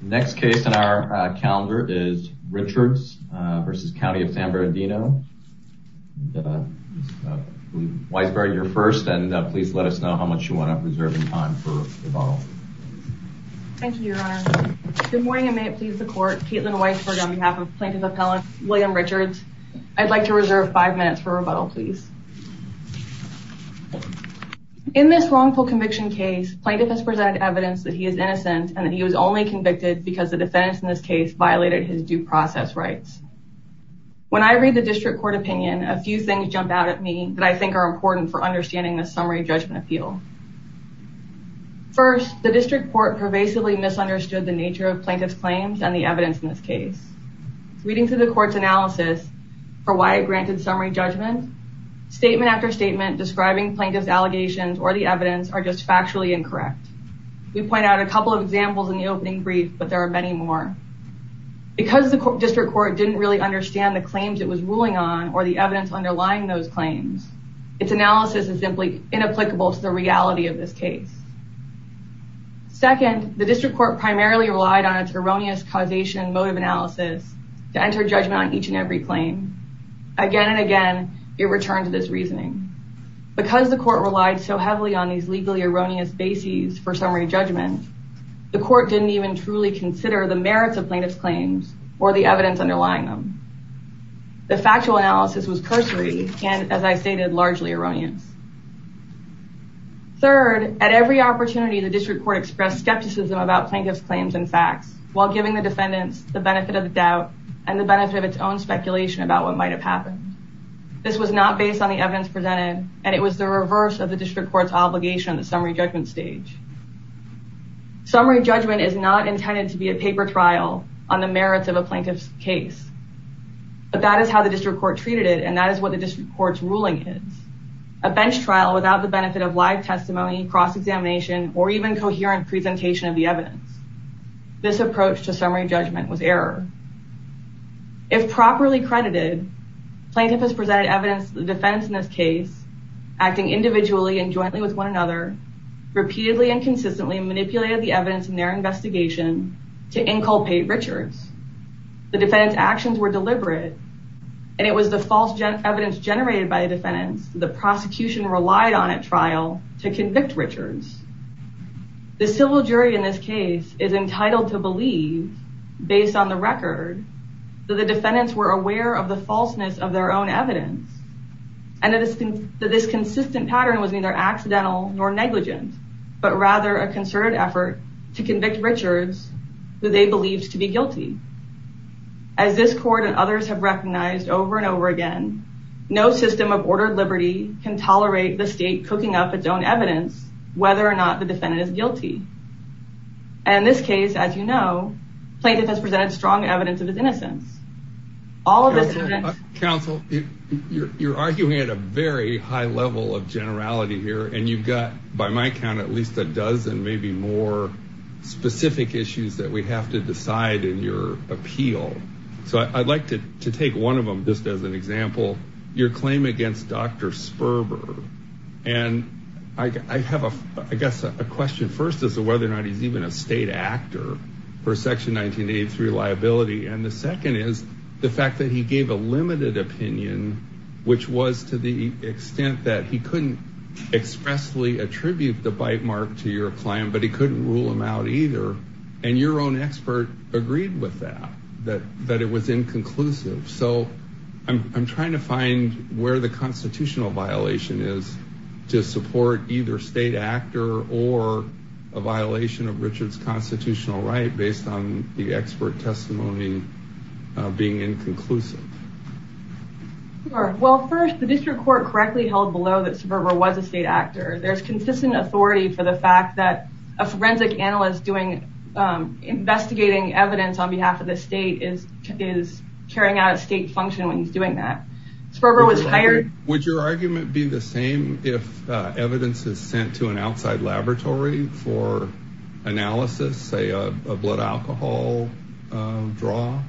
next case in our calendar is Richards versus County of San Bernardino Weisberg you're first and please let us know how much you want to reserve in time for rebuttal. Thank you your honor. Good morning and may it please the court Caitlin Weisberg on behalf of Plaintiff Appellant William Richards. I'd like to reserve five minutes for rebuttal please. In this wrongful conviction case Plaintiff has presented evidence that he is innocent and that he was only convicted because the defense in this case violated his due process rights. When I read the district court opinion a few things jump out at me that I think are important for understanding the summary judgment appeal. First the district court pervasively misunderstood the nature of plaintiff's claims and the evidence in this case. Reading through the court's analysis for why I granted summary judgment statement after statement describing plaintiff's evidence are just factually incorrect. We point out a couple of examples in the opening brief but there are many more. Because the district court didn't really understand the claims it was ruling on or the evidence underlying those claims its analysis is simply inapplicable to the reality of this case. Second the district court primarily relied on its erroneous causation mode of analysis to enter judgment on each and every claim. Again and again it returned to this on these legally erroneous bases for summary judgment the court didn't even truly consider the merits of plaintiff's claims or the evidence underlying them. The factual analysis was cursory and as I stated largely erroneous. Third at every opportunity the district court expressed skepticism about plaintiff's claims and facts while giving the defendants the benefit of the doubt and the benefit of its own speculation about what might have happened. This was not based on the evidence presented and it was the reverse of the district court's obligation on the summary judgment stage. Summary judgment is not intended to be a paper trial on the merits of a plaintiff's case but that is how the district court treated it and that is what the district courts ruling is. A bench trial without the benefit of live testimony cross-examination or even coherent presentation of the evidence. This approach to summary judgment was error. If properly credited plaintiff has presented evidence the defense in this case acting individually and jointly with one another repeatedly and consistently manipulated the evidence in their investigation to inculpate Richards. The defendants actions were deliberate and it was the false evidence generated by the defendants the prosecution relied on at trial to convict Richards. The civil jury in this case is entitled to believe based on the record that the defendants were aware of the falseness of their own evidence and that this consistent pattern was neither accidental nor negligent but rather a concerted effort to convict Richards who they believed to be guilty. As this court and others have recognized over and over again no system of ordered liberty can tolerate the state cooking up its own evidence whether or not the defendant is guilty. In this case as you know plaintiff has presented strong evidence of his innocence. Counsel you're arguing at a very high level of generality here and you've got by my count at least a dozen maybe more specific issues that we have to decide in your appeal. So I'd like to take one of them just as an example your claim against Dr. Sperber and I have a I guess a question first as to whether or not he's even a state actor for section 1983 liability and the second is the fact that he gave a limited opinion which was to the extent that he couldn't expressly attribute the bite mark to your client but he couldn't rule him out either and your own expert agreed with that that that it was inconclusive so I'm trying to find where the constitutional violation is to support either state actor or a violation of Richard's constitutional right based on the expert testimony being inconclusive. Well first the district court correctly held below that Sperber was a state actor there's consistent authority for the fact that a forensic analyst doing investigating evidence on behalf of the state is is carrying out a state function when he's that. Sperber was hired... Would your argument be the same if evidence is sent to an outside laboratory for analysis say a blood alcohol draw?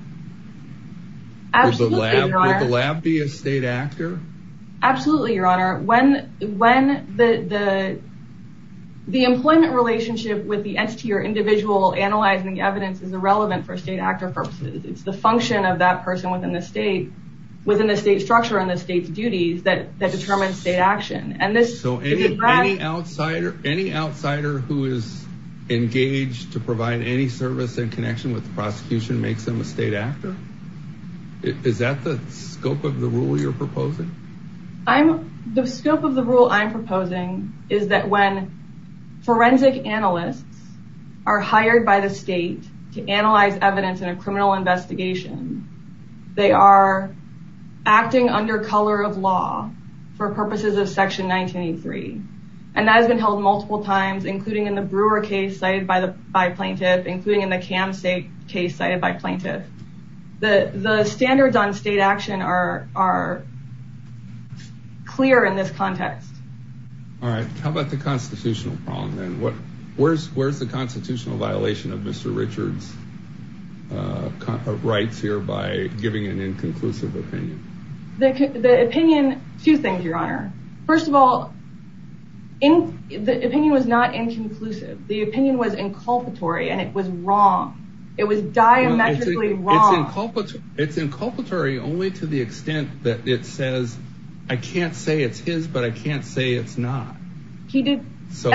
Absolutely. Would the lab be a state actor? Absolutely your honor when when the the the employment relationship with the entity or individual analyzing the evidence is irrelevant for a state within the state structure and the state's duties that that determines state action and this... So any outsider any outsider who is engaged to provide any service in connection with the prosecution makes them a state actor? Is that the scope of the rule you're proposing? I'm the scope of the rule I'm proposing is that when forensic analysts are hired by the state to analyze evidence in a criminal investigation they are acting under color of law for purposes of section 1983 and that has been held multiple times including in the Brewer case cited by the by plaintiff including in the cam state case cited by plaintiff. The the standards on state action are are clear in this context. All right how about the constitutional problem and what where's the constitutional violation of mr. Richards of rights here by giving an inconclusive opinion? The opinion two things your honor first of all in the opinion was not inconclusive the opinion was inculpatory and it was wrong it was diametrically wrong. It's inculpatory only to the extent that it says I can't say it's his but I can't say it's not. He did... So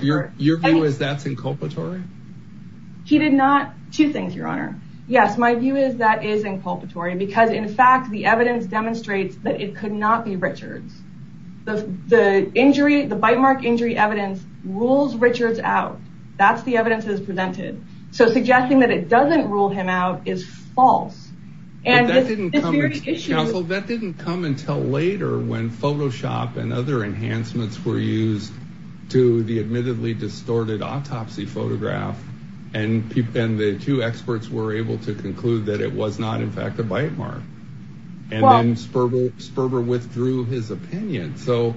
your view is that's inculpatory? He did not... two things your honor yes my view is that is inculpatory because in fact the evidence demonstrates that it could not be Richards. The injury the bite mark injury evidence rules Richards out that's the evidence is presented so suggesting that it doesn't rule him out is false. And counsel that didn't come later when Photoshop and other enhancements were used to the admittedly distorted autopsy photograph and people and the two experts were able to conclude that it was not in fact a bite mark and then Sperber Sperber withdrew his opinion so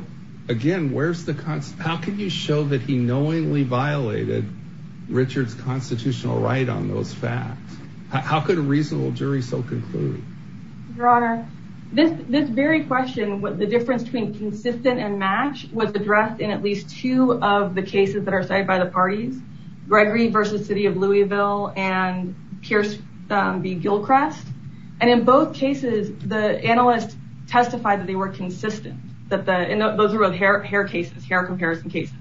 again where's the concept how can you show that he knowingly violated Richards constitutional right on those facts? How could a reasonable jury so conclude? Your honor this this very question what the difference between consistent and match was addressed in at least two of the cases that are cited by the parties Gregory versus City of Louisville and Pierce v. Gilchrest and in both cases the analyst testified that they were consistent that the those are both hair hair cases hair comparison cases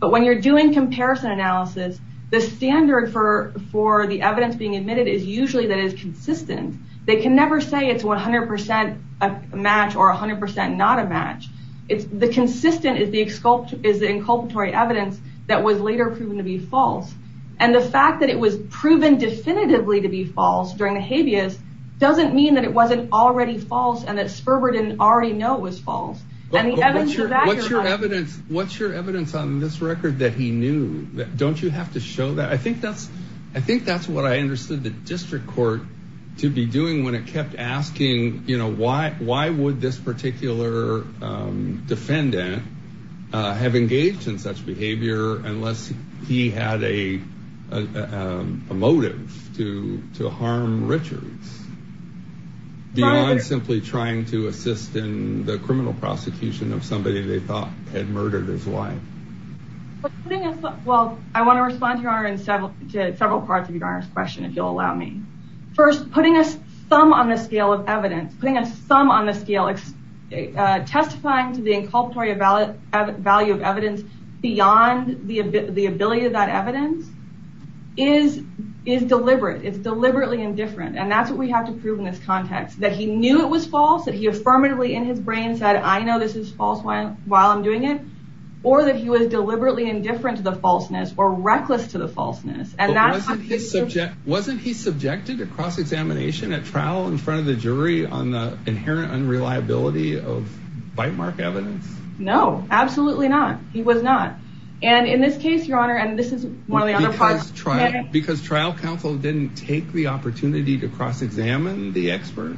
but when you're doing comparison analysis the standard for for the evidence being admitted is usually that is consistent they can never say it's 100% a match or a hundred percent not a match it's the consistent is the sculpt is the inculpatory evidence that was later proven to be false and the fact that it was proven definitively to be false during the habeas doesn't mean that it wasn't already false and that Sperber didn't already know was false. What's your evidence on this record that he knew that don't you have to show that I think that's I think that's what I understood the district court to be doing when it kept asking you know why why would this particular defendant have engaged in such behavior unless he had a motive to to harm Richards. I'm simply trying to assist in the criminal prosecution of somebody they thought had murdered his wife. Well I want to respond to several parts of your question if you'll allow me. First putting a sum on the scale of evidence putting a sum on the scale testifying to the inculpatory of valid value of evidence beyond the ability of that evidence is is deliberate it's deliberately indifferent and that's what we have to prove in this context that he knew it was false that he affirmatively in his brain said I know this is false while I'm doing it or that he was deliberately indifferent to the falseness or reckless to the falseness and that subject wasn't he subjected to cross-examination at trial in front of the jury on the inherent unreliability of bite mark evidence. No absolutely not he was not and in this case your honor and this is one of the other parts trial because trial counsel didn't take the opportunity to cross-examine the expert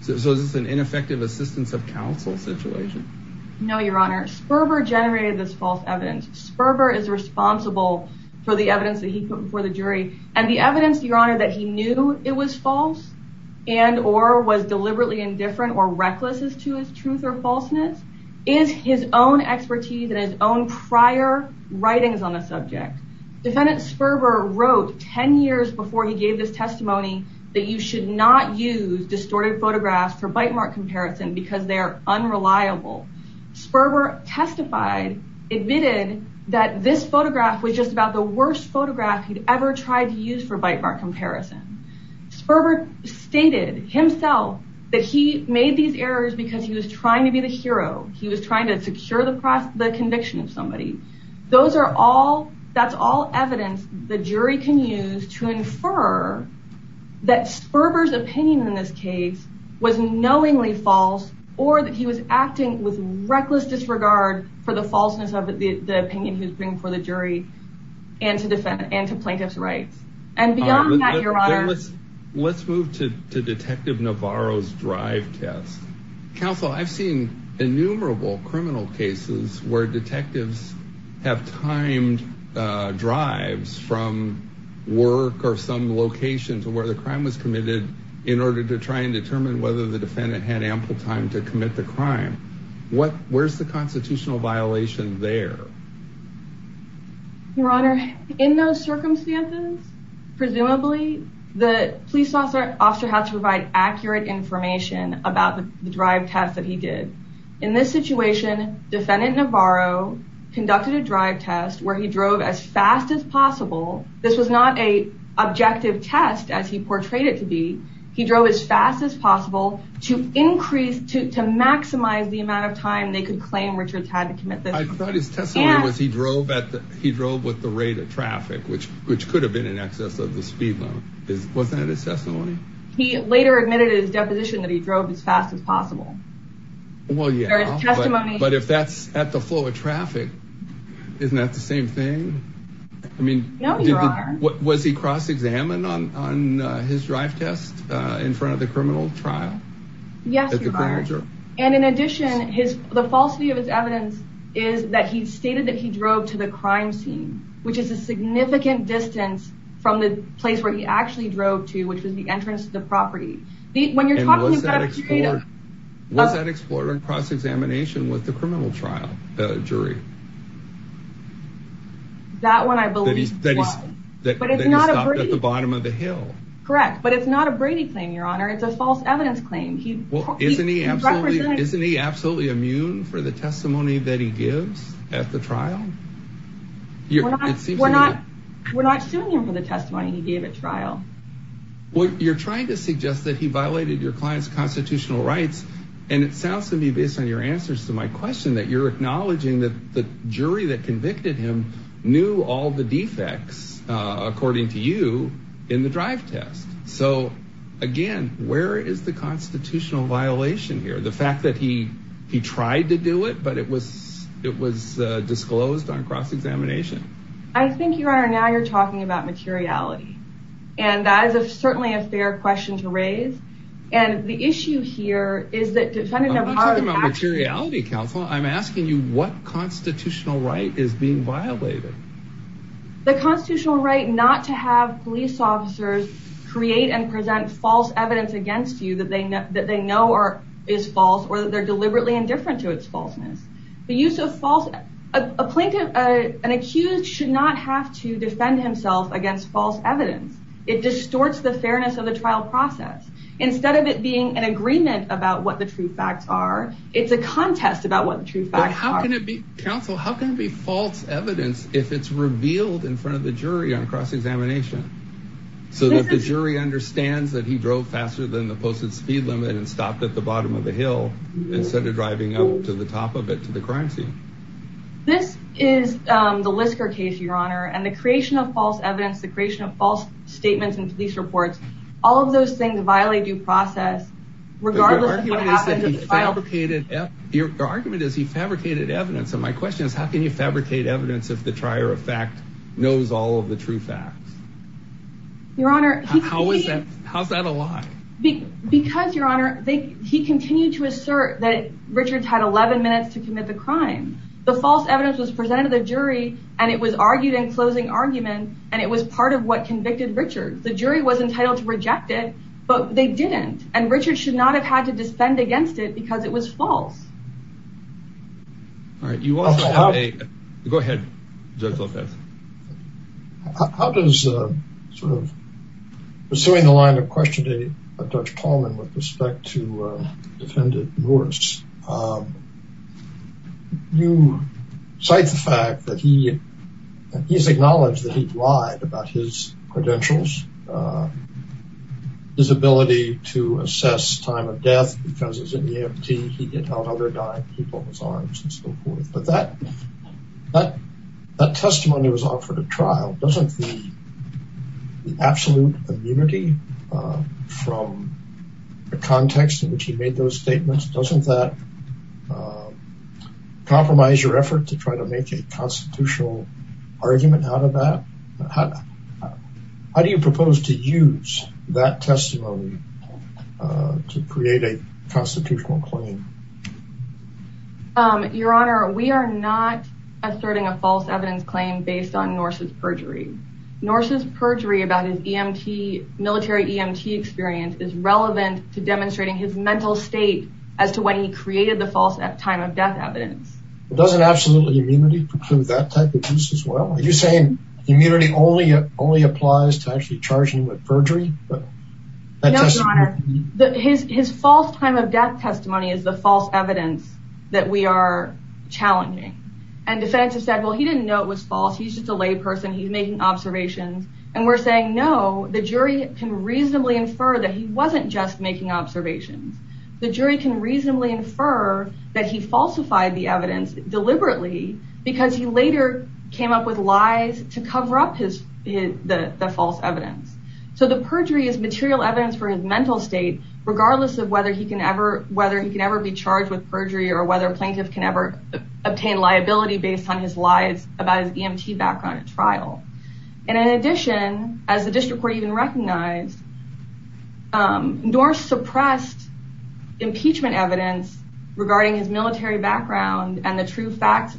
so this is an ineffective assistance of counsel situation. No your honor Sperber generated this false evidence Sperber is responsible for the evidence that he put before the jury and the evidence your honor that he knew it was false and or was deliberately indifferent or reckless as to his truth or falseness is his own expertise and his own prior writings on the subject. Defendant Sperber wrote ten years before he gave this testimony that you should not use distorted photographs for bite mark comparison because they are unreliable. Sperber testified admitted that this photograph was just about the worst photograph he'd ever tried to use for bite mark comparison. Sperber stated himself that he made these errors because he was trying to be the hero he was trying to secure the conviction of somebody. Those are all that's all evidence the jury can use to false or that he was acting with reckless disregard for the falseness of the opinion he was bringing before the jury and to defend and to plaintiff's rights and beyond that your honor. Let's move to Detective Navarro's drive test. Counsel I've seen innumerable criminal cases where detectives have timed drives from work or some location to where the crime was committed in order to try and time to commit the crime. What where's the constitutional violation there? Your honor in those circumstances presumably the police officer has to provide accurate information about the drive test that he did. In this situation defendant Navarro conducted a drive test where he drove as fast as possible. This was not a objective test as he portrayed it to be. He drove as fast as possible to increase to maximize the amount of time they could claim Richards had to commit this. I thought his testimony was he drove at the he drove with the rate of traffic which which could have been in excess of the speed limit. Was that his testimony? He later admitted his deposition that he drove as fast as possible. Well yeah but if that's at the flow of traffic isn't that the same thing? I mean no your honor. Was he cross-examined on his drive test in front of the criminal trial? Yes your honor and in addition his the falsity of his evidence is that he stated that he drove to the crime scene which is a significant distance from the place where he actually drove to which was the entrance to the property. Was that explored in cross-examination with the criminal trial jury? That one I believe was. That he stopped at the bottom of the hill. Correct but it's not a Brady claim your honor it's a false evidence claim. Isn't he absolutely immune for the testimony that he gives at the trial? We're not suing him for the testimony he gave at trial. Well you're trying to suggest that he violated your client's constitutional rights and it sounds to me based on your answers to my question that you're acknowledging that the jury that convicted him knew all the defects according to you in the drive test. So again where is the constitutional violation here? The fact that he he tried to do it but it was it was disclosed on cross-examination? I think your honor now you're talking about materiality and that is a certainly a fair question to raise and the issue here is that... I'm not talking about materiality counsel I'm asking you what constitutional right is being violated? The constitutional right not to have police officers create and present false evidence against you that they know that they know or is false or that they're deliberately indifferent to its falseness. The use of false a plaintiff an accused should not have to defend himself against false evidence. It distorts the fairness of the trial process. Instead of it being an agreement about what the true facts are it's a Counsel how can it be false evidence if it's revealed in front of the jury on cross-examination? So that the jury understands that he drove faster than the posted speed limit and stopped at the bottom of the hill instead of driving up to the top of it to the crime scene. This is the Lisker case your honor and the creation of false evidence the creation of false statements and police reports all of those things violate due process regardless of what happened at the trial. Your argument is he fabricated evidence and my question is how can you fabricate evidence if the trier of fact knows all of the true facts? Your honor. How is that how's that a lie? Because your honor they he continued to assert that Richards had 11 minutes to commit the crime. The false evidence was presented to the jury and it was argued in closing argument and it was part of what convicted Richards. The jury was entitled to reject it but they didn't and Richards should not have had to defend against it because it was false. All right you go ahead Judge Lopez. How does sort of pursuing the line of questioning of Judge Paulman with respect to defendant Morris you cite the fact that he he's acknowledged that he died of death because he was in the A.M.T. he hit out other dying people in his arms and so forth. But that that that testimony was offered at trial doesn't the absolute immunity from the context in which he made those statements doesn't that compromise your effort to try to make a constitutional argument out of that? How do you propose to use that testimony to create a constitutional claim? Your honor we are not asserting a false evidence claim based on Norse's perjury. Norse's perjury about his E.M.T. military E.M.T. experience is relevant to demonstrating his mental state as to when he created the false time of death evidence. Doesn't absolutely immunity preclude that type of use as well? Are you saying immunity only only applies to actually charging with perjury? His false time of death testimony is the false evidence that we are challenging and defendants have said well he didn't know it was false he's just a layperson he's making observations and we're saying no the jury can reasonably infer that he wasn't just making observations. The jury can reasonably infer that he falsified the evidence deliberately because he later came up with lies to cover up his the false evidence. So the perjury is material evidence for his mental state regardless of whether he can ever whether he can ever be charged with perjury or whether a plaintiff can ever obtain liability based on his lies about his E.M.T. background at trial. And in addition as the district court even recognized Norse suppressed impeachment evidence regarding his military background and the true facts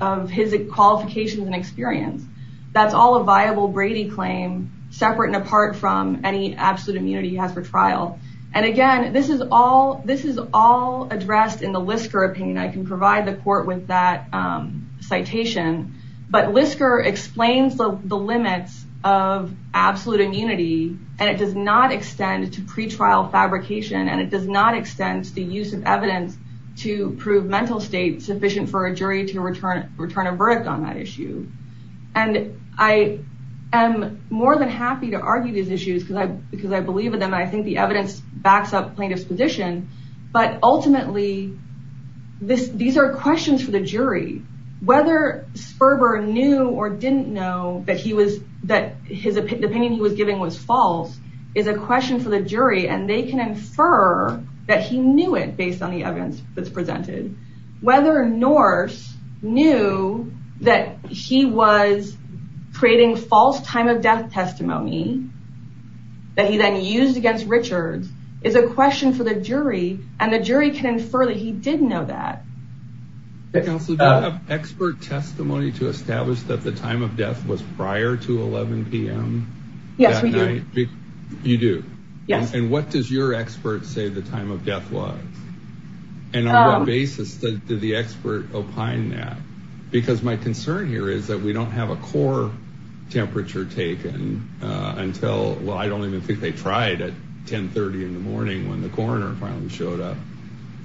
of his qualifications and experience. That's all a viable Brady claim separate and apart from any absolute immunity he has for trial. And again this is all this is all addressed in the Lisker opinion. I can provide the court with that citation but Lisker explains the limits of absolute immunity and it does not extend to pretrial fabrication and it does not extend to the use of evidence to prove mental state sufficient for a jury to return return a verdict on that issue. And I am more than happy to argue these issues because I because I believe in them I think the evidence backs up plaintiffs position but ultimately this these are questions for the jury whether Sperber knew or didn't know that he was that his opinion he was giving was false is a question for the jury and they can infer that he knew it based on the evidence that's presented. Whether Norse knew that he was creating false time of death testimony that he then used against Richards is a question for the to establish that the time of death was prior to 11 p.m. yes you do yes and what does your expert say the time of death was and on what basis that did the expert opine that because my concern here is that we don't have a core temperature taken until well I don't even think they tried at 1030 in the morning when the coroner finally showed up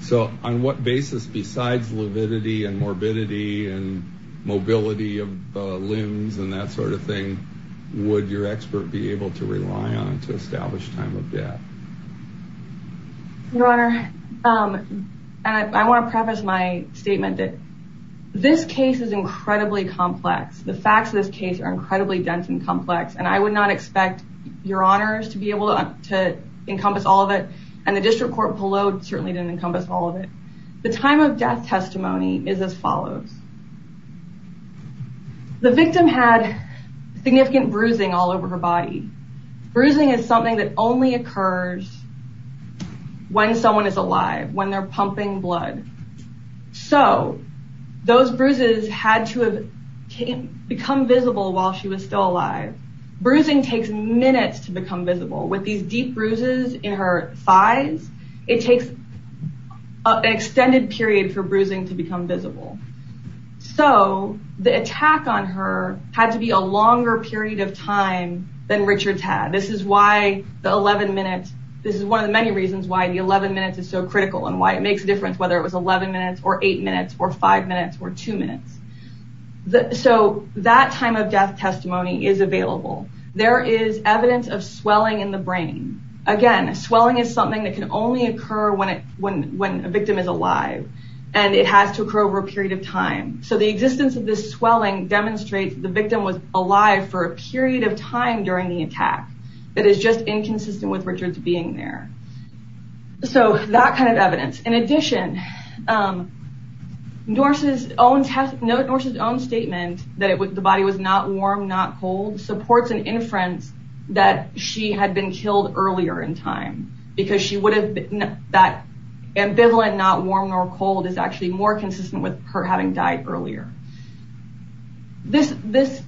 so on what basis besides lividity and mobility of limbs and that sort of thing would your expert be able to rely on to establish time of death your honor I want to preface my statement that this case is incredibly complex the facts of this case are incredibly dense and complex and I would not expect your honors to be able to encompass all of it and the district court below certainly didn't encompass all of it the time of the victim had significant bruising all over her body bruising is something that only occurs when someone is alive when they're pumping blood so those bruises had to have become visible while she was still alive bruising takes minutes to become visible with these deep bruises in her thighs it takes an extended period for bruising to become visible so the attack on her had to be a longer period of time than Richards had this is why the 11 minutes this is one of the many reasons why the 11 minutes is so critical and why it makes a difference whether it was 11 minutes or 8 minutes or 5 minutes or 2 minutes so that time of death testimony is available there is evidence of swelling in the brain again swelling is something that can only occur when it when when a victim is alive and it has to occur over a period of time so the existence of this swelling demonstrates the victim was alive for a period of time during the attack that is just inconsistent with Richards being there so that kind of evidence in addition Norse's own statement that the body was not warm not cold supports an inference that she had been killed earlier in time because she would have been that ambivalent not warm nor cold is actually more consistent with her having died earlier this this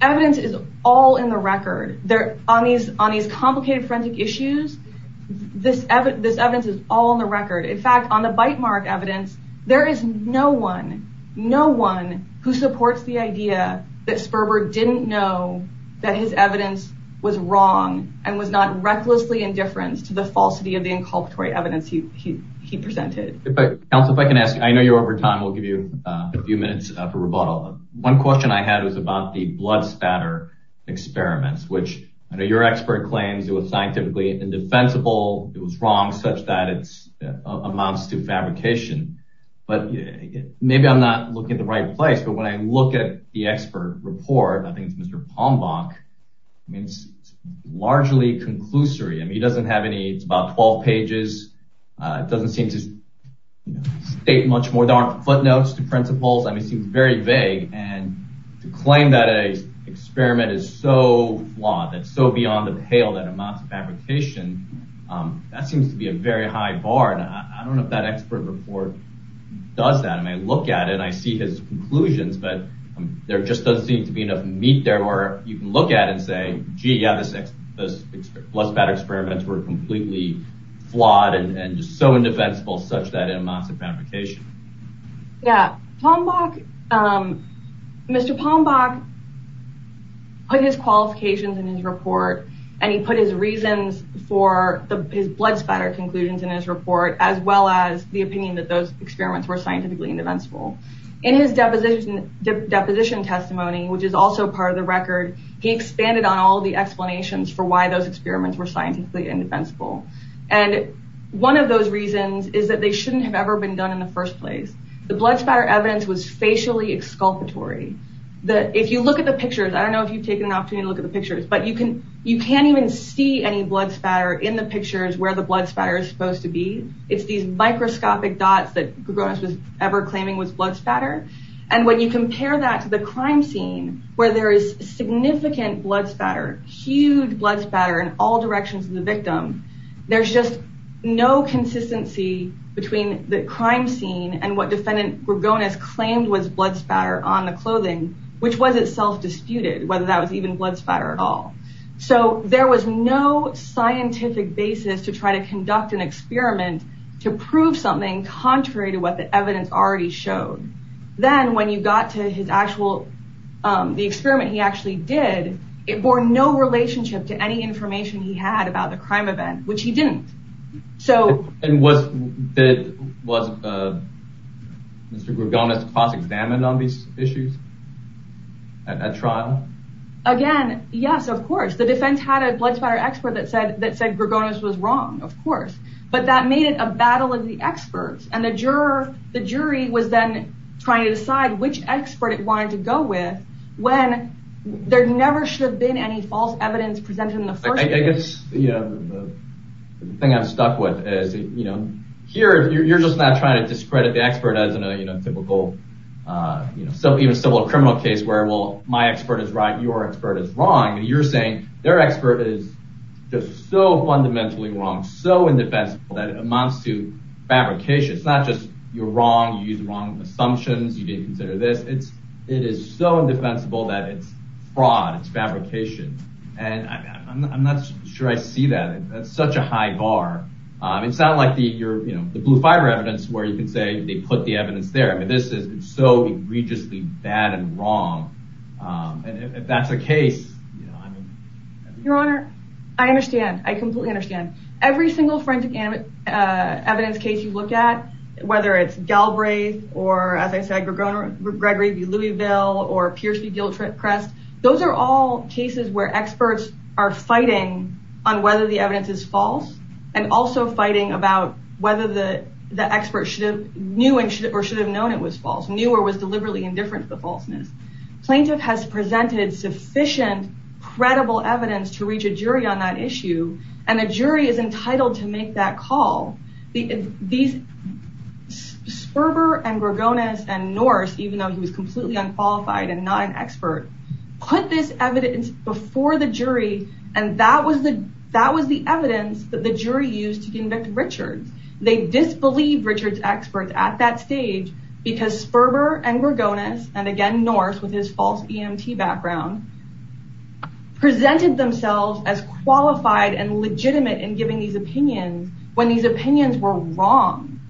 evidence is all in the record there on these on these complicated forensic issues this evidence is all in the record in fact on the bite mark evidence there is no one no one who supports the that his evidence was wrong and was not recklessly indifference to the falsity of the inculpatory evidence he he presented but else if I can ask I know you're over time we'll give you a few minutes for rebuttal one question I had was about the blood spatter experiments which I know your expert claims it was scientifically indefensible it was wrong such that it's amounts to fabrication but maybe I'm not looking at the right place but when I look at the expert report I think it's mr. palm Bach means largely conclusory and he doesn't have any it's about 12 pages it doesn't seem to state much more darn footnotes to principles I mean seems very vague and to claim that a experiment is so flawed that's so beyond the pale that amounts of fabrication that seems to be a very high bar and I don't know if that expert report does that and I look at it I see his conclusions but there just doesn't seem to be enough meat there where you can look at and say gee yeah the six those blood spatter experiments were completely flawed and just so indefensible such that it amounts of fabrication yeah Tom Bach mr. palm Bach put his qualifications in his report and he put his reasons for the blood spatter conclusions in his report as well as the deposition deposition testimony which is also part of the record he expanded on all the explanations for why those experiments were scientifically indefensible and one of those reasons is that they shouldn't have ever been done in the first place the blood spatter evidence was facially exculpatory that if you look at the pictures I don't know if you've taken an opportunity to look at the pictures but you can you can't even see any blood spatter in the pictures where the blood spatter is supposed to be it's these microscopic dots that was ever claiming was blood spatter and when you compare that to the crime scene where there is significant blood spatter huge blood spatter in all directions of the victim there's just no consistency between the crime scene and what defendant we're going as claimed was blood spatter on the clothing which was itself disputed whether that was even blood spatter at all so there was no scientific basis to try to conduct an experiment to prove something contrary to what the evidence already showed then when you got to his actual the experiment he actually did it bore no relationship to any information he had about the crime event which he didn't so and was that was mr. Gorgonis cross-examined on these issues at trial again yes of course the defense had a blood spatter expert that said that said Gorgonis was wrong of course but that made it a battle of the experts and the juror the jury was then trying to decide which expert it wanted to go with when there never should have been any false evidence presented in the first place. I guess the thing I'm stuck with is you know here you're just not trying to discredit the expert as in a you know typical you know so even civil criminal case where well my expert is right your expert is wrong and you're saying their expert is just so fundamentally wrong so indefensible that amounts to fabrication it's not just you're wrong you use the wrong assumptions you didn't consider this it's it is so indefensible that it's fraud it's fabrication and I'm not sure I see that that's such a high bar it's not like the you know the blue-fiber evidence where you can say they put the evidence there but this is so egregiously bad and wrong and if that's the case your honor I understand I completely understand every single forensic evidence case you look at whether it's Galbraith or as I said Gregory Louisville or Pierce v. Gilchrist those are all cases where experts are fighting on whether the evidence is false and also fighting about whether the the expert should have knew and should or should have known it was false knew or was deliberately indifferent to the falseness. Plaintiff has presented sufficient credible evidence to reach a jury on that issue and a jury is entitled to make that call. These Sperber and Gregonis and Norse even though he was completely unqualified and not an expert put this evidence before the jury and that was the that was the evidence that the jury used to convict Richards they disbelieved Richards experts at that background presented themselves as qualified and legitimate in giving these opinions when these opinions were wrong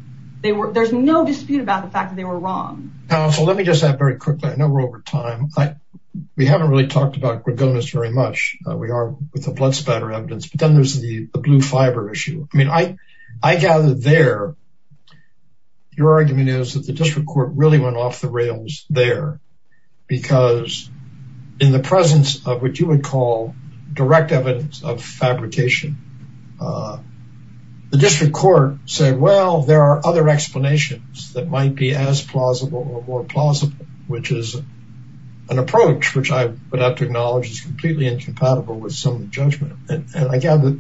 they were there's no dispute about the fact that they were wrong. Counsel let me just add very quickly I know we're over time but we haven't really talked about Gregonis very much we are with the blood spatter evidence but then there's the blue-fiber issue I mean I I gather there your argument is that the district court really went off the rails there because in the presence of what you would call direct evidence of fabrication the district court said well there are other explanations that might be as plausible or more plausible which is an approach which I would have to acknowledge is completely incompatible with some judgment and I gather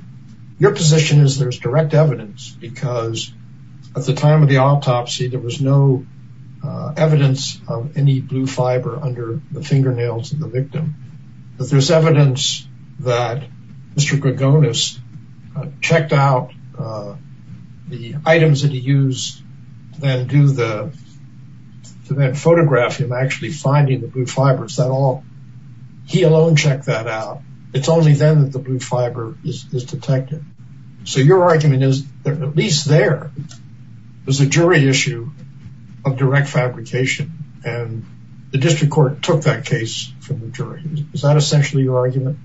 your position is there's direct evidence because at the time of the autopsy there was no evidence of any blue fiber under the fingernails of the victim but there's evidence that Mr. Gregonis checked out the items that he used and do the to that photograph him actually finding the blue fibers that all he alone checked that out it's only then that the blue fiber is detected so your argument is at least there was a jury issue of direct fabrication and the district court took that case from the jury is that essentially your argument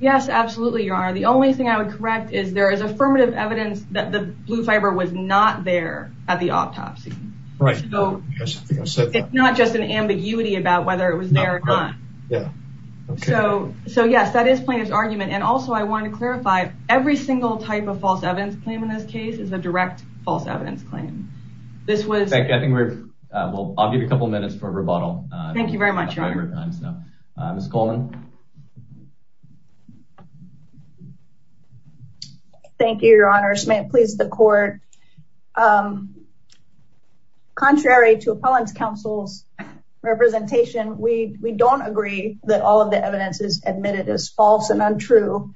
yes absolutely your honor the only thing I would correct is there is affirmative evidence that the blue fiber was not there at the autopsy right so it's not just an ambiguity about whether it was there or not yeah so so yes that is plaintiff's argument and also I want to clarify every single type of false evidence claim in this case is a direct false evidence claim this was I think we're well I'll give a couple minutes for rebuttal thank you very much thank you your honors may it please the court contrary to appellants counsel's representation we we don't agree that all of the evidence is admitted as false and untrue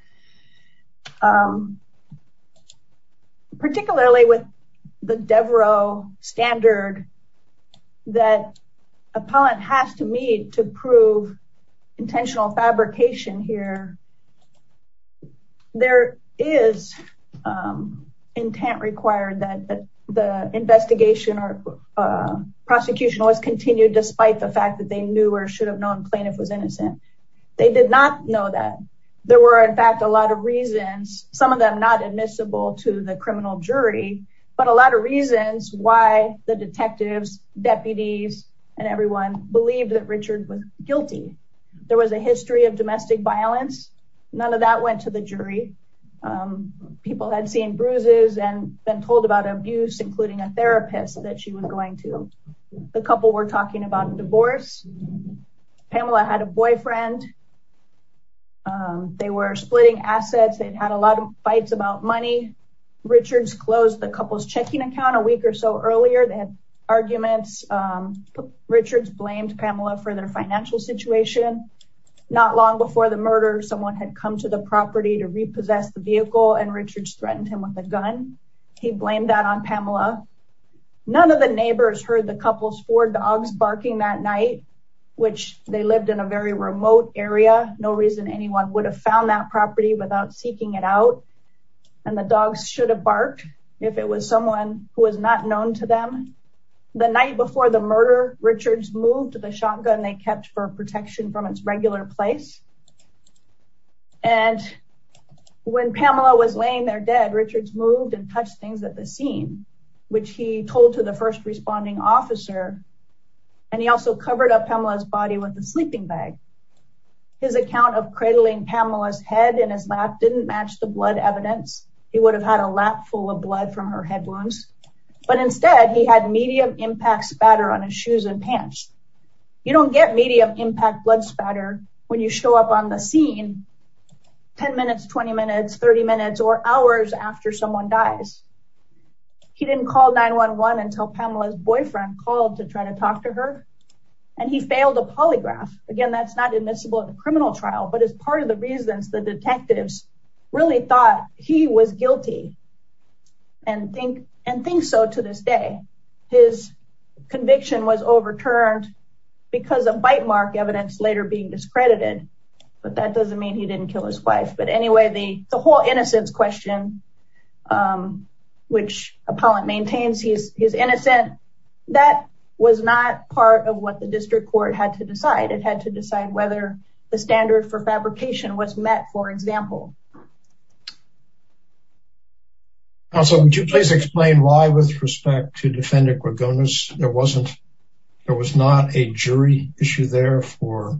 particularly with the Devereux standard that appellant has to meet to prove intentional fabrication here there is intent required that the investigation or prosecution was continued despite the fact that they did not know that there were in fact a lot of reasons some of them not admissible to the criminal jury but a lot of reasons why the detectives deputies and everyone believed that Richard was guilty there was a history of domestic violence none of that went to the jury people had seen bruises and been told about abuse including a therapist that she was going to the couple were talking about divorce Pamela had a boyfriend they were splitting assets they'd had a lot of fights about money Richards closed the couple's checking account a week or so earlier they had arguments Richards blamed Pamela for their financial situation not long before the murder someone had come to the property to repossess the vehicle and Richards threatened him with a gun he blamed that on Pamela none of the neighbors heard the couple's four dogs barking that night which they lived in a very remote area no reason anyone would have found that property without seeking it out and the dogs should have barked if it was someone who was not known to them the night before the murder Richards moved to the shotgun they kept for protection from its regular place and when Pamela was laying there dead Richards moved and Pamela's body with a sleeping bag his account of cradling Pamela's head in his lap didn't match the blood evidence he would have had a lap full of blood from her head wounds but instead he had medium-impact spatter on his shoes and pants you don't get medium-impact blood spatter when you show up on the scene 10 minutes 20 minutes 30 minutes or hours after someone dies he didn't call 911 until Pamela's boyfriend called to try to talk to her and he failed a polygraph again that's not admissible in a criminal trial but as part of the reasons the detectives really thought he was guilty and think and think so to this day his conviction was overturned because of bite mark evidence later being discredited but that doesn't mean he didn't kill his wife but anyway the he's innocent that was not part of what the district court had to decide it had to decide whether the standard for fabrication was met for example also would you please explain why with respect to defendant Gorgonis there wasn't there was not a jury issue there for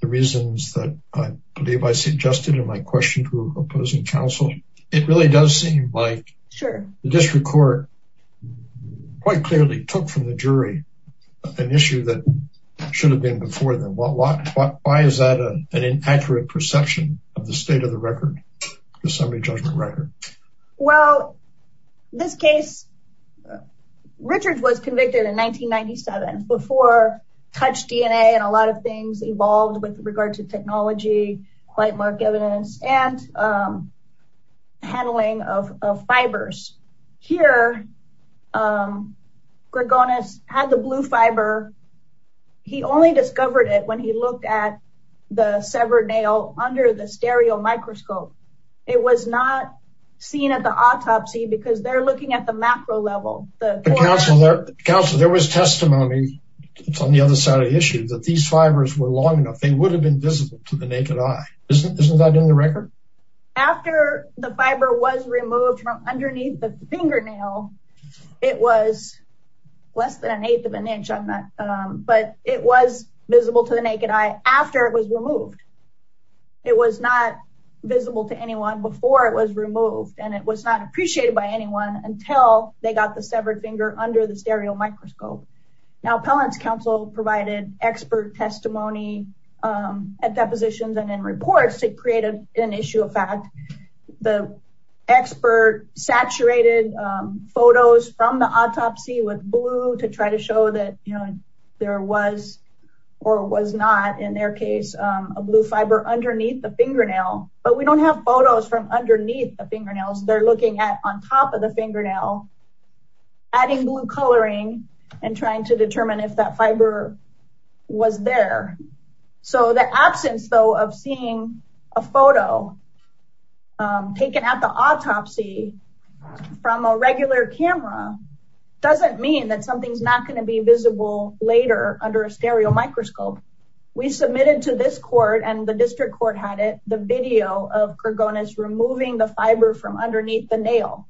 the reasons that I believe I suggested in my question to opposing counsel it really does seem like sure the district court quite clearly took from the jury an issue that should have been before them what what why is that an inaccurate perception of the state of the record the summary judgment record well this case Richard was convicted in 1997 before touch DNA and a lot of things evolved with regard to here Gorgonis had the blue fiber he only discovered it when he looked at the severed nail under the stereo microscope it was not seen at the autopsy because they're looking at the macro level the counselor there was testimony on the other side of the issue that these fibers were long enough they would have been visible to the naked eye isn't that in the record after the fiber was removed from underneath the fingernail it was less than 1 8th of an inch on that but it was visible to the naked eye after it was removed it was not visible to anyone before it was removed and it was not appreciated by anyone until they got the severed finger under the stereo microscope now appellants counsel provided expert testimony at depositions and in reports it created an issue of the expert saturated photos from the autopsy with blue to try to show that you know there was or was not in their case a blue fiber underneath the fingernail but we don't have photos from underneath the fingernails they're looking at on top of the fingernail adding blue coloring and trying to taken out the autopsy from a regular camera doesn't mean that something's not going to be visible later under a stereo microscope we submitted to this court and the district court had it the video of Kurgonis removing the fiber from underneath the nail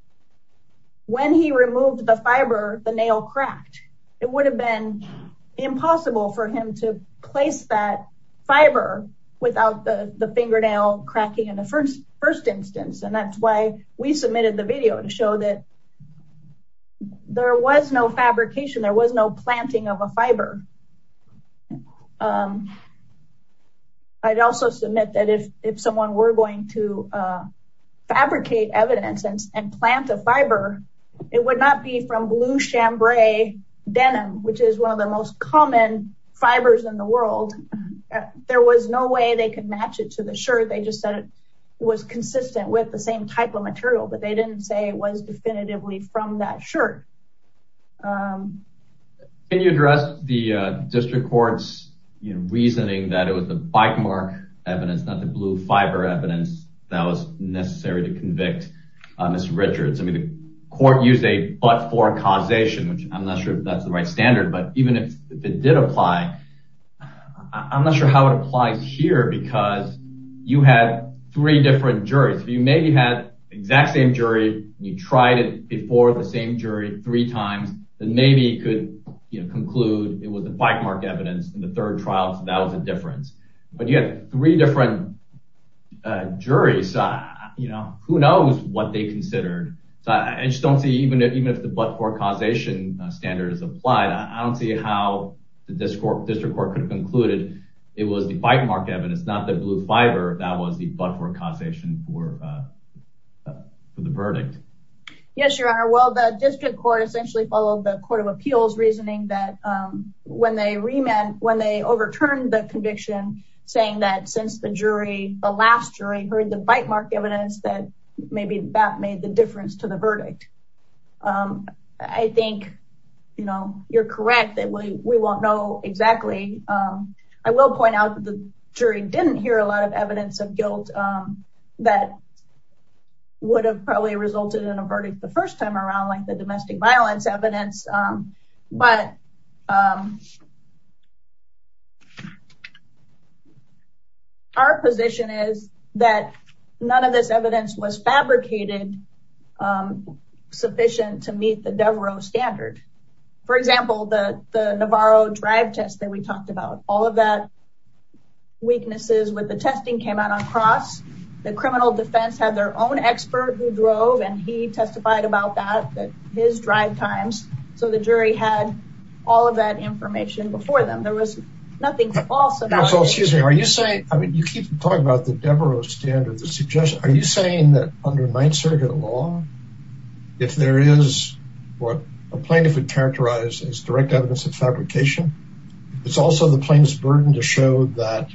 when he removed the fiber the nail cracked it would have been impossible for him to place that fiber without the the fingernail cracking in the first first instance and that's why we submitted the video to show that there was no fabrication there was no planting of a fiber I'd also submit that if if someone were going to fabricate evidence and plant a fiber it would not be from blue chambray denim which is one of the most common fibers in the world there was no way they could match it to the shirt they just said it was consistent with the same type of material but they didn't say it was definitively from that shirt. Can you address the district courts reasoning that it was the bite mark evidence not the blue fiber evidence that was necessary to convict Mr. Richards I mean the court used a but for causation which I'm not sure if that's the right standard but even if it did apply I'm not sure how it applies here because you had three different juries you maybe had exact same jury you tried it before the same jury three times that maybe could you know conclude it was the bite mark evidence in the third trial so that was a difference but you had three different juries you know who knows what they considered so I just don't see even if even if the but for causation standard is applied I don't see how the district court could have concluded it was the bite mark evidence not the blue fiber that was the but for causation for the verdict. Yes your honor well the district court essentially followed the Court of Appeals reasoning that when they remand when they overturned the conviction saying that since the jury the last jury heard the bite mark evidence that maybe that made the difference to the I think you know you're correct that we won't know exactly I will point out the jury didn't hear a lot of evidence of guilt that would have probably resulted in a verdict the first time around like the domestic violence evidence but our position is that none of this evidence was fabricated sufficient to meet the Devereux standard for example the Navarro drive test that we talked about all of that weaknesses with the testing came out on cross the criminal defense had their own expert who drove and he testified about that that his drive times so the jury had all of that information before them there was nothing false about it. Excuse me are you saying I mean you keep talking about the Devereux standard the suggestion are you saying that under Ninth Circuit law if there is what a plaintiff would characterize as direct evidence of fabrication it's also the plaintiff's burden to show that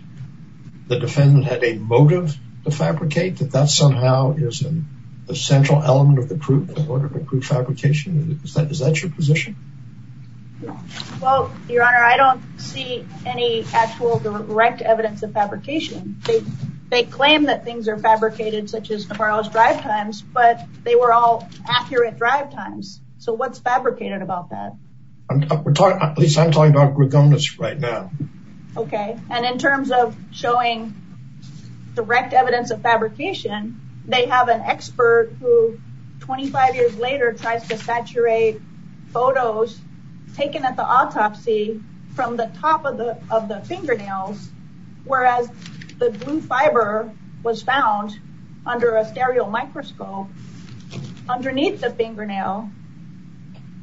the defendant had a motive to fabricate that that somehow is in the central element of the proof in order to prove fabrication is that is that your position well your honor I don't see any actual direct evidence of fabrication they claim that things are times so what's fabricated about that? At least I'm talking about Gregonas right now. Okay and in terms of showing direct evidence of fabrication they have an expert who 25 years later tries to saturate photos taken at the autopsy from the top of the of the fingernails whereas the blue fiber was found under a fingernail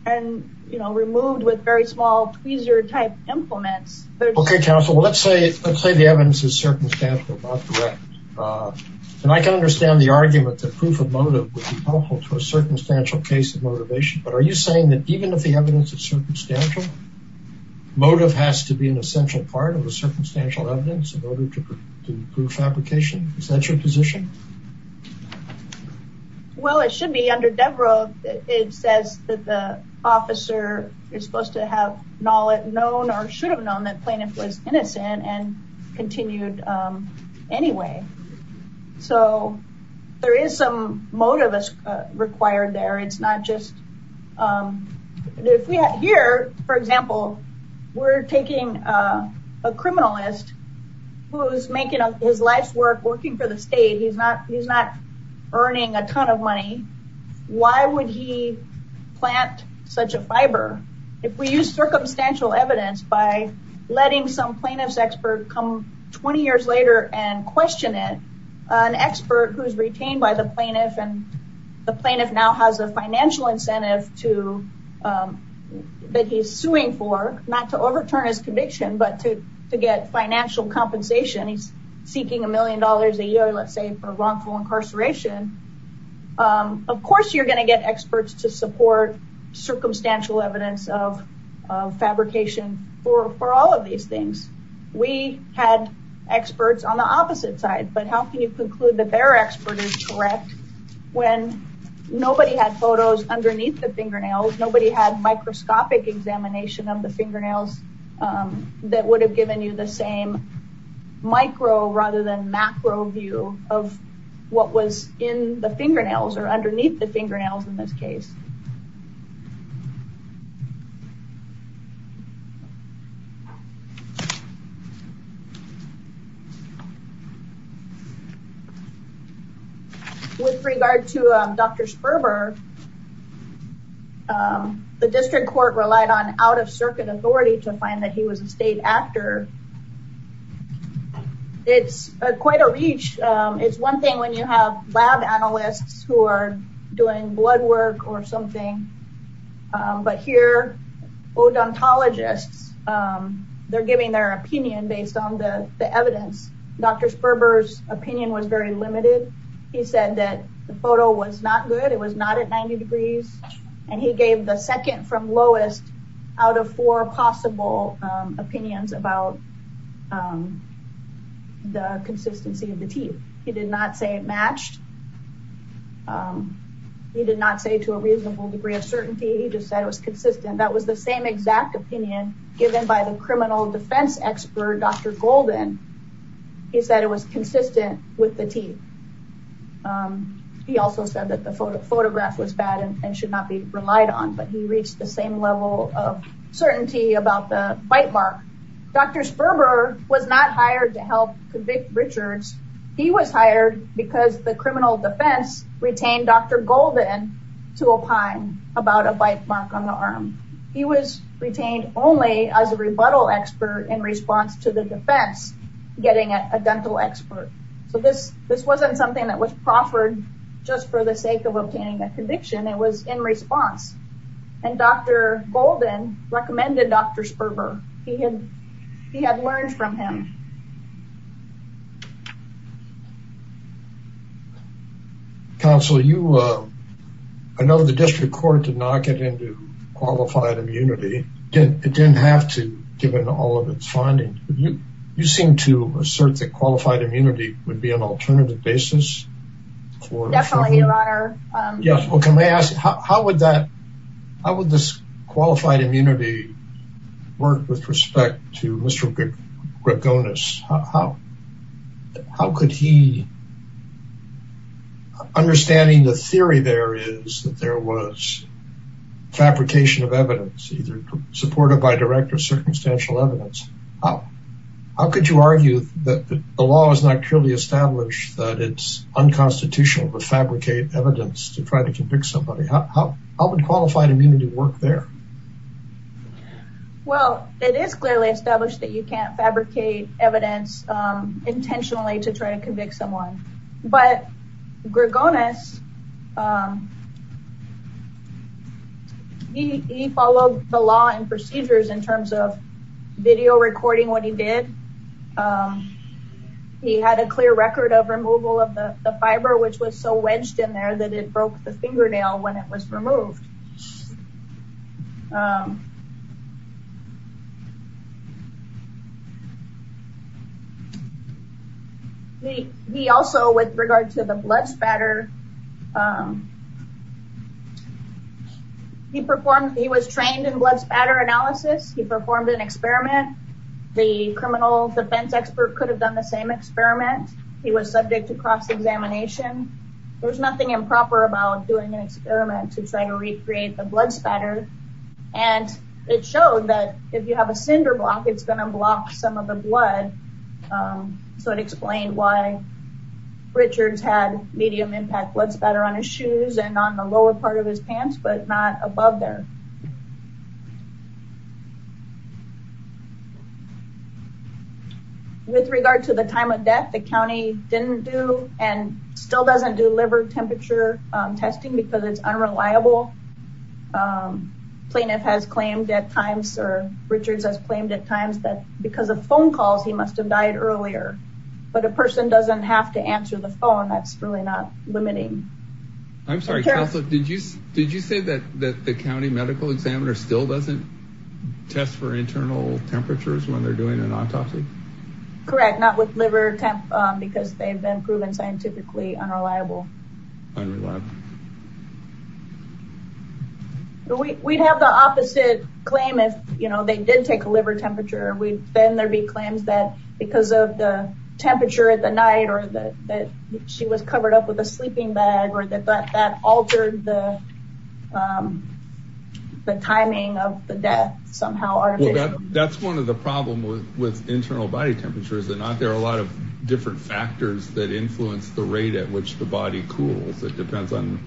and you know removed with very small tweezer type implements. Okay counsel let's say let's say the evidence is circumstantial and I can understand the argument that proof of motive would be helpful to a circumstantial case of motivation but are you saying that even if the evidence is circumstantial motive has to be an essential part of the circumstantial evidence in order to it says that the officer is supposed to have knowledge known or should have known that plaintiff was innocent and continued anyway so there is some motive as required there it's not just if we have here for example we're taking a criminalist who's making up his life's work working for the state he's not he's not earning a ton of money why would he plant such a fiber if we use circumstantial evidence by letting some plaintiff's expert come 20 years later and question it an expert who's retained by the plaintiff and the plaintiff now has a financial incentive to that he's suing for not to overturn his conviction but to to get financial compensation he's seeking a million dollars a year let's say for wrongful incarceration of course you're going to get experts to support circumstantial evidence of fabrication for all of these things we had experts on the opposite side but how can you conclude that their expert is correct when nobody had photos underneath the fingernails nobody had microscopic examination of the fingernails that would have given you the same micro rather than macro view of what was in the fingernails or underneath the fingernails in this case with regard to dr. Sperber the district court relied on out-of-circuit authority to find that he was a state actor it's quite a reach it's one thing when you have lab analysts who are doing blood work or something but here odontologists they're giving their opinion based on the evidence dr. Sperber's opinion was very limited he said that the photo was not good it was not at 90 degrees and he opinions about the consistency of the teeth he did not say it matched he did not say to a reasonable degree of certainty he just said it was consistent that was the same exact opinion given by the criminal defense expert dr. Golden he said it was consistent with the teeth he also said that the photo photograph was bad and should not be relied on but he reached the same level of certainty about the bite mark dr. Sperber was not hired to help convict Richards he was hired because the criminal defense retained dr. Golden to opine about a bite mark on the arm he was retained only as a rebuttal expert in response to the defense getting a dental expert so this this wasn't something that was proffered just for the sake of obtaining a conviction it was in response and dr. Sperber he had he had learned from him counsel you uh I know the district court did not get into qualified immunity it didn't have to given all of its findings you you seem to assert that qualified immunity would be an alternative basis yes well can I ask how would that how work with respect to mr. Greg Gonus how how could he understanding the theory there is that there was fabrication of evidence either supported by direct or circumstantial evidence how how could you argue that the law is not clearly established that it's unconstitutional to fabricate evidence to try to convict somebody how would qualified immunity work there well it is clearly established that you can't fabricate evidence intentionally to try to convict someone but Greg Gonus he followed the law and procedures in terms of video recording what he did he had a clear record of removal of the fiber which was so wedged in there that it broke the fingernail when it was removed he he also with regard to the blood spatter he performed he was trained in blood spatter analysis he performed an experiment the criminal defense expert could have done the same experiment he was subject to cross-examination there's nothing improper about doing an experiment to try to recreate the blood spatter and it showed that if you have a cinder block it's going to block some of the blood so it explained why Richards had medium impact blood spatter on his shoes and on the lower part of his pants but not above there with regard to the time of death the county didn't do and still doesn't do liver temperature testing because it's unreliable plaintiff has claimed at times or Richards has claimed at times that because of phone calls he must have died earlier but a person doesn't have to answer the phone that's really not limiting I'm sorry did you did you say that that the county medical examiner still doesn't test for internal temperatures when they're doing an autopsy correct not with liver temp because they've been proven scientifically unreliable we'd have the opposite claim if you know they did take a liver temperature we've been there be claims that because of the temperature at the night or that that she was covered up with a sleeping bag or that that altered the the timing of the death somehow that's one of the problem with internal body temperatures they're not there are a lot of different factors that influence the rate at which the body cools it depends on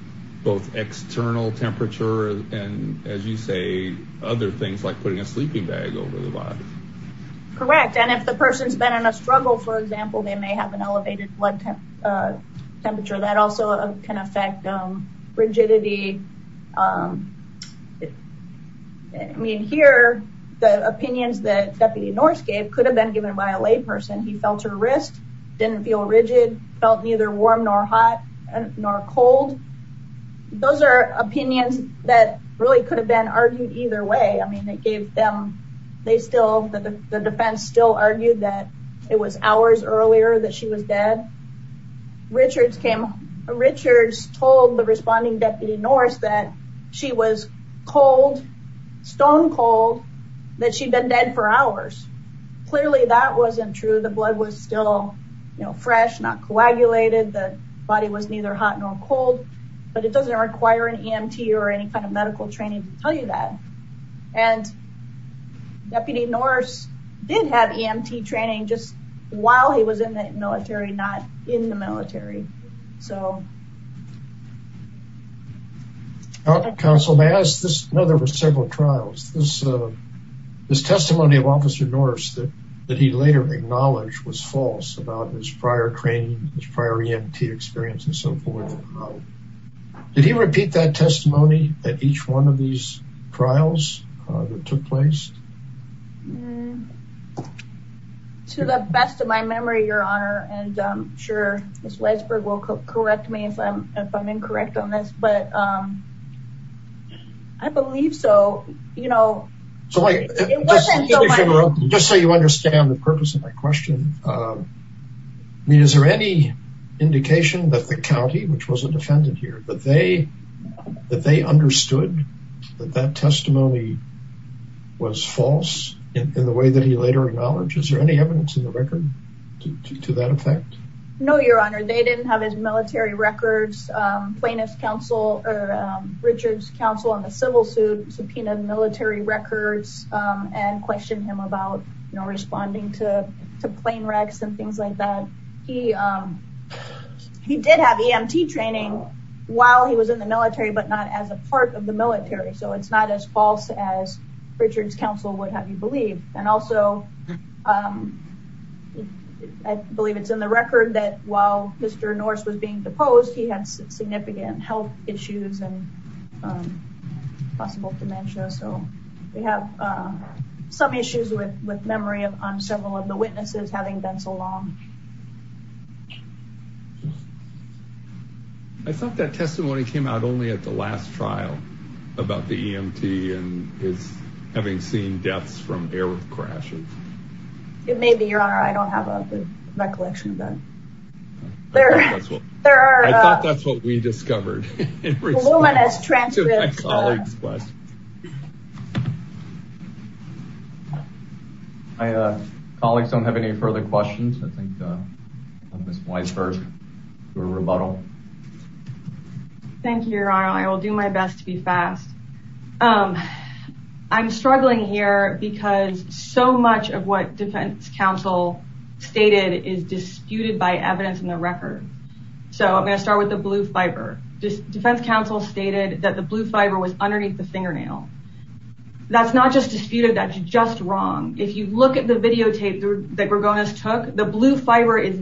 both external temperature and as you say other things like putting a sleeping bag over the body correct and if the person's been in a struggle for example they may have an rigidity I mean here the opinions that deputy Norse gave could have been given by a layperson he felt her wrist didn't feel rigid felt neither warm nor hot and nor cold those are opinions that really could have been argued either way I mean they gave them they still the defense still argued that it was hours earlier that she was dead Richards came Richards told the responding deputy Norse that she was cold stone-cold that she'd been dead for hours clearly that wasn't true the blood was still you know fresh not coagulated the body was neither hot nor cold but it doesn't require an EMT or any kind of medical training to tell you that and deputy Norse did have EMT training just while he was in the military not in the military so counsel may I ask this no there were several trials this this testimony of officer Norse that that he later acknowledged was false about his prior training his prior EMT experience and so forth did he repeat that testimony that each one of these trials that took place to the best of my memory your honor and I'm sure miss Weisberg will correct me if I'm if I'm incorrect on this but I believe so you know just so you understand the purpose of my question I mean is there any indication that the county which was a defendant here but they that they understood that that testimony was false in the way that he later acknowledged is there any evidence in the record to that effect no your honor they didn't have his military records plaintiff's counsel or Richards counsel on the civil suit subpoenaed military records and questioned him about you know responding to the plane wrecks and things like that he he did have EMT training while he was in the military but not as a part of the military so it's not as false as Richard's counsel would have you believe and also I believe it's in the record that while mr. Norse was being deposed he had significant health issues and possible dementia so we have some I thought that testimony came out only at the last trial about the EMT and is having seen deaths from air crashes it may be your honor I don't have a recollection of that there there are that's what we discovered I colleagues don't have any further questions I think this place first we're bottle thank you I will do my best to be fast I'm struggling here because so much of what defense counsel stated is disputed by evidence in the record so I'm going to start with the blue fiber just defense counsel stated that the blue fiber was underneath the fingernail that's not just disputed that's just wrong if you look at the videotape that we're going as took the blue fiber is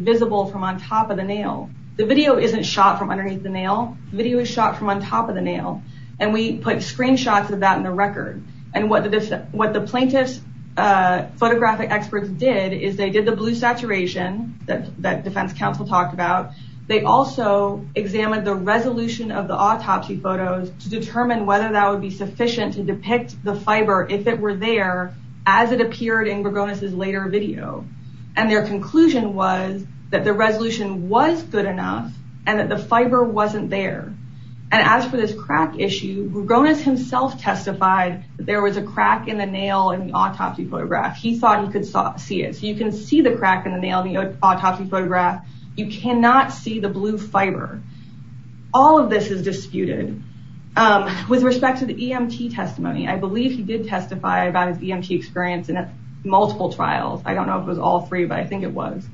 shot from underneath the nail video is shot from on top of the nail and we put screenshots of that in the record and what did this what the plaintiffs photographic experts did is they did the blue saturation that that defense counsel talked about they also examined the resolution of the autopsy photos to determine whether that would be sufficient to depict the fiber if it were there as it appeared in we're going as his later video and their conclusion was that the resolution was good enough and that the fiber wasn't there and as for this crack issue bonus himself testified there was a crack in the nail and the autopsy photograph he thought he could see it so you can see the crack in the nail the autopsy photograph you cannot see the blue fiber all of this is disputed with respect to the EMT testimony I believe he did testify about his EMT experience and at multiple trials I don't know if it was all three but I think it was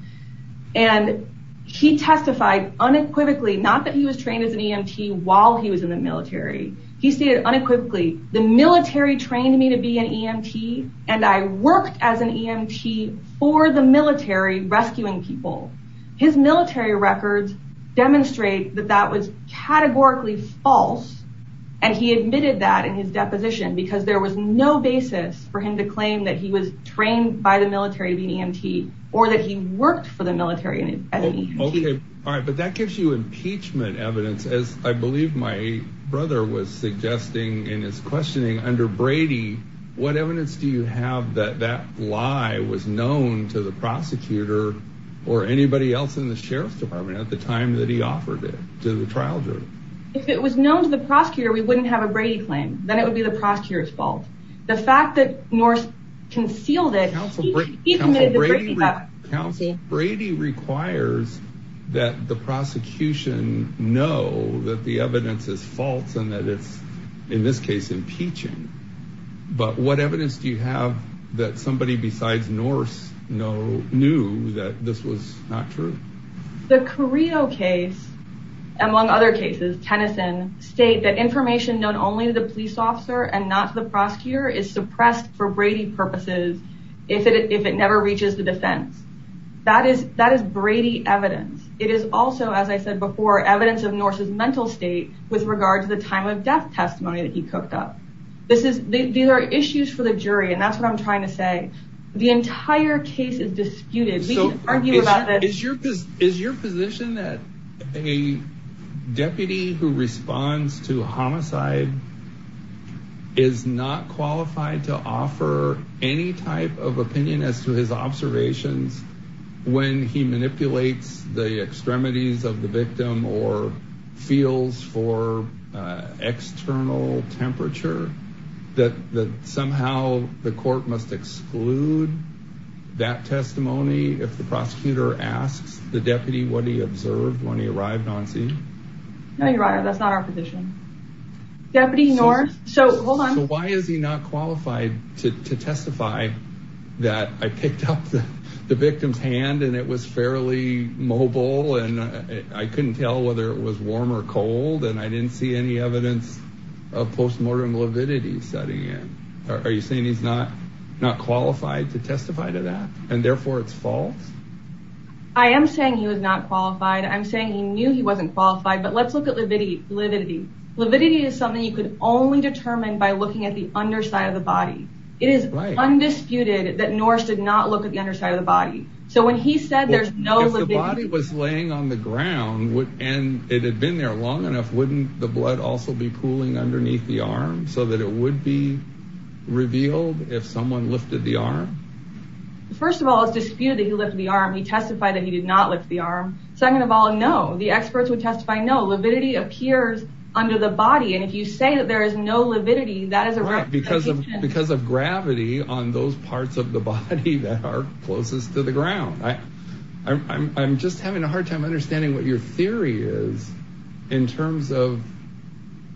and he testified unequivocally not that he was trained as an EMT while he was in the military he stated unequivocally the military trained me to be an EMT and I worked as an EMT for the military rescuing people his military records demonstrate that that was categorically false and he admitted that in his deposition because there was no basis for him to claim that he was trained by the military to be an EMT or that he worked for the military and okay all right but that gives you impeachment evidence as I believe my brother was suggesting in his questioning under Brady what evidence do you have that that lie was known to the prosecutor or anybody else in the sheriff's department at the time that he offered it to the trial jury if it was known to the prosecutor we wouldn't have a Brady claim then it would be the concealed it Brady requires that the prosecution know that the evidence is false and that it's in this case impeaching but what evidence do you have that somebody besides Norse know knew that this was not true the Carrillo case among other cases Tennyson state that information known only to the police officer and not the prosecutor is suppressed for Brady purposes if it if it never reaches the defense that is that is Brady evidence it is also as I said before evidence of Norse's mental state with regard to the time of death testimony that he cooked up this is these are issues for the jury and that's what I'm trying to say the entire case is disputed so is your is your position that a deputy who responds to homicide is not qualified to offer any type of opinion as to his observations when he manipulates the extremities of the victim or feels for external temperature that that somehow the court must exclude that testimony if the prosecutor asks the deputy what he observed when he arrived on scene no you're right that's not our position deputy nor so hold on why is he not qualified to testify that I picked up the victim's hand and it was fairly mobile and I couldn't tell whether it was warm or cold and I didn't see any evidence of post-mortem lividity setting in are you saying he's not not qualified to testify to that and therefore it's false I am saying he was not qualified I'm saying he knew he wasn't qualified but let's look at lividity lividity lividity is something you could only determine by looking at the underside of the body it is undisputed that Norris did not look at the underside of the body so when he said there's no the body was laying on the ground would and it had been there long enough wouldn't the blood also be cooling underneath the arm so that it would be revealed if someone lifted the arm first of all it's disputed that he lifted the arm he testified that he did not lift the arm second of all no the experts would testify no lividity appears under the body and if you say that there is no lividity that is a wreck because of because of gravity on those parts of the body that are closest to the ground I I'm just having a hard time understanding what your theory is in terms of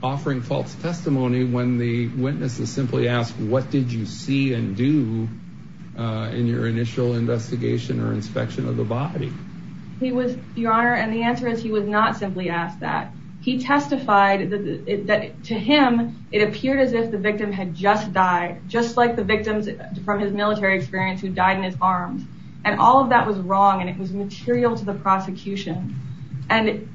offering false testimony when the witnesses simply asked what did you see and do in your initial investigation or inspection of the body he was your honor and the answer is he was not simply asked that he testified that to him it appeared as if the victim had just died just like the victims from his military experience who died in his arms and all of that was wrong and it was material to the prosecution and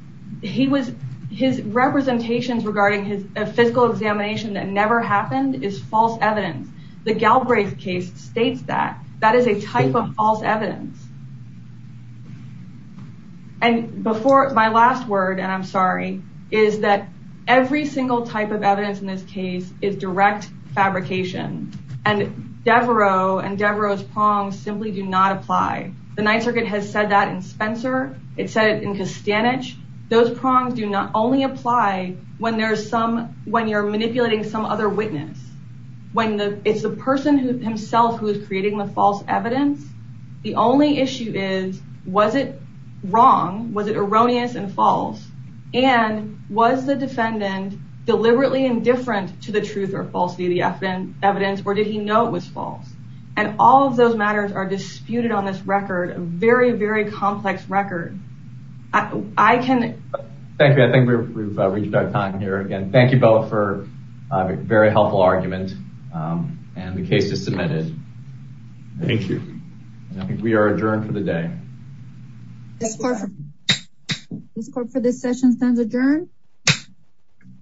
he was his representations regarding his physical examination that never happened is false evidence the Galbraith case states that that is a type of false evidence and before my last word and I'm sorry is that every single type of evidence in this case is direct fabrication and Devereaux and Devereaux's prongs simply do not apply the Ninth Circuit has said that in Spencer it said in Castanets those prongs do not apply when there's some when you're manipulating some other witness when the it's the person who himself who is creating the false evidence the only issue is was it wrong was it erroneous and false and was the defendant deliberately indifferent to the truth or falsity the FN evidence or did he know it was false and all of those matters are disputed on this record a very very time here again thank you both for a very helpful argument and the case is submitted thank you I think we are adjourned for the day this court for this session stands adjourned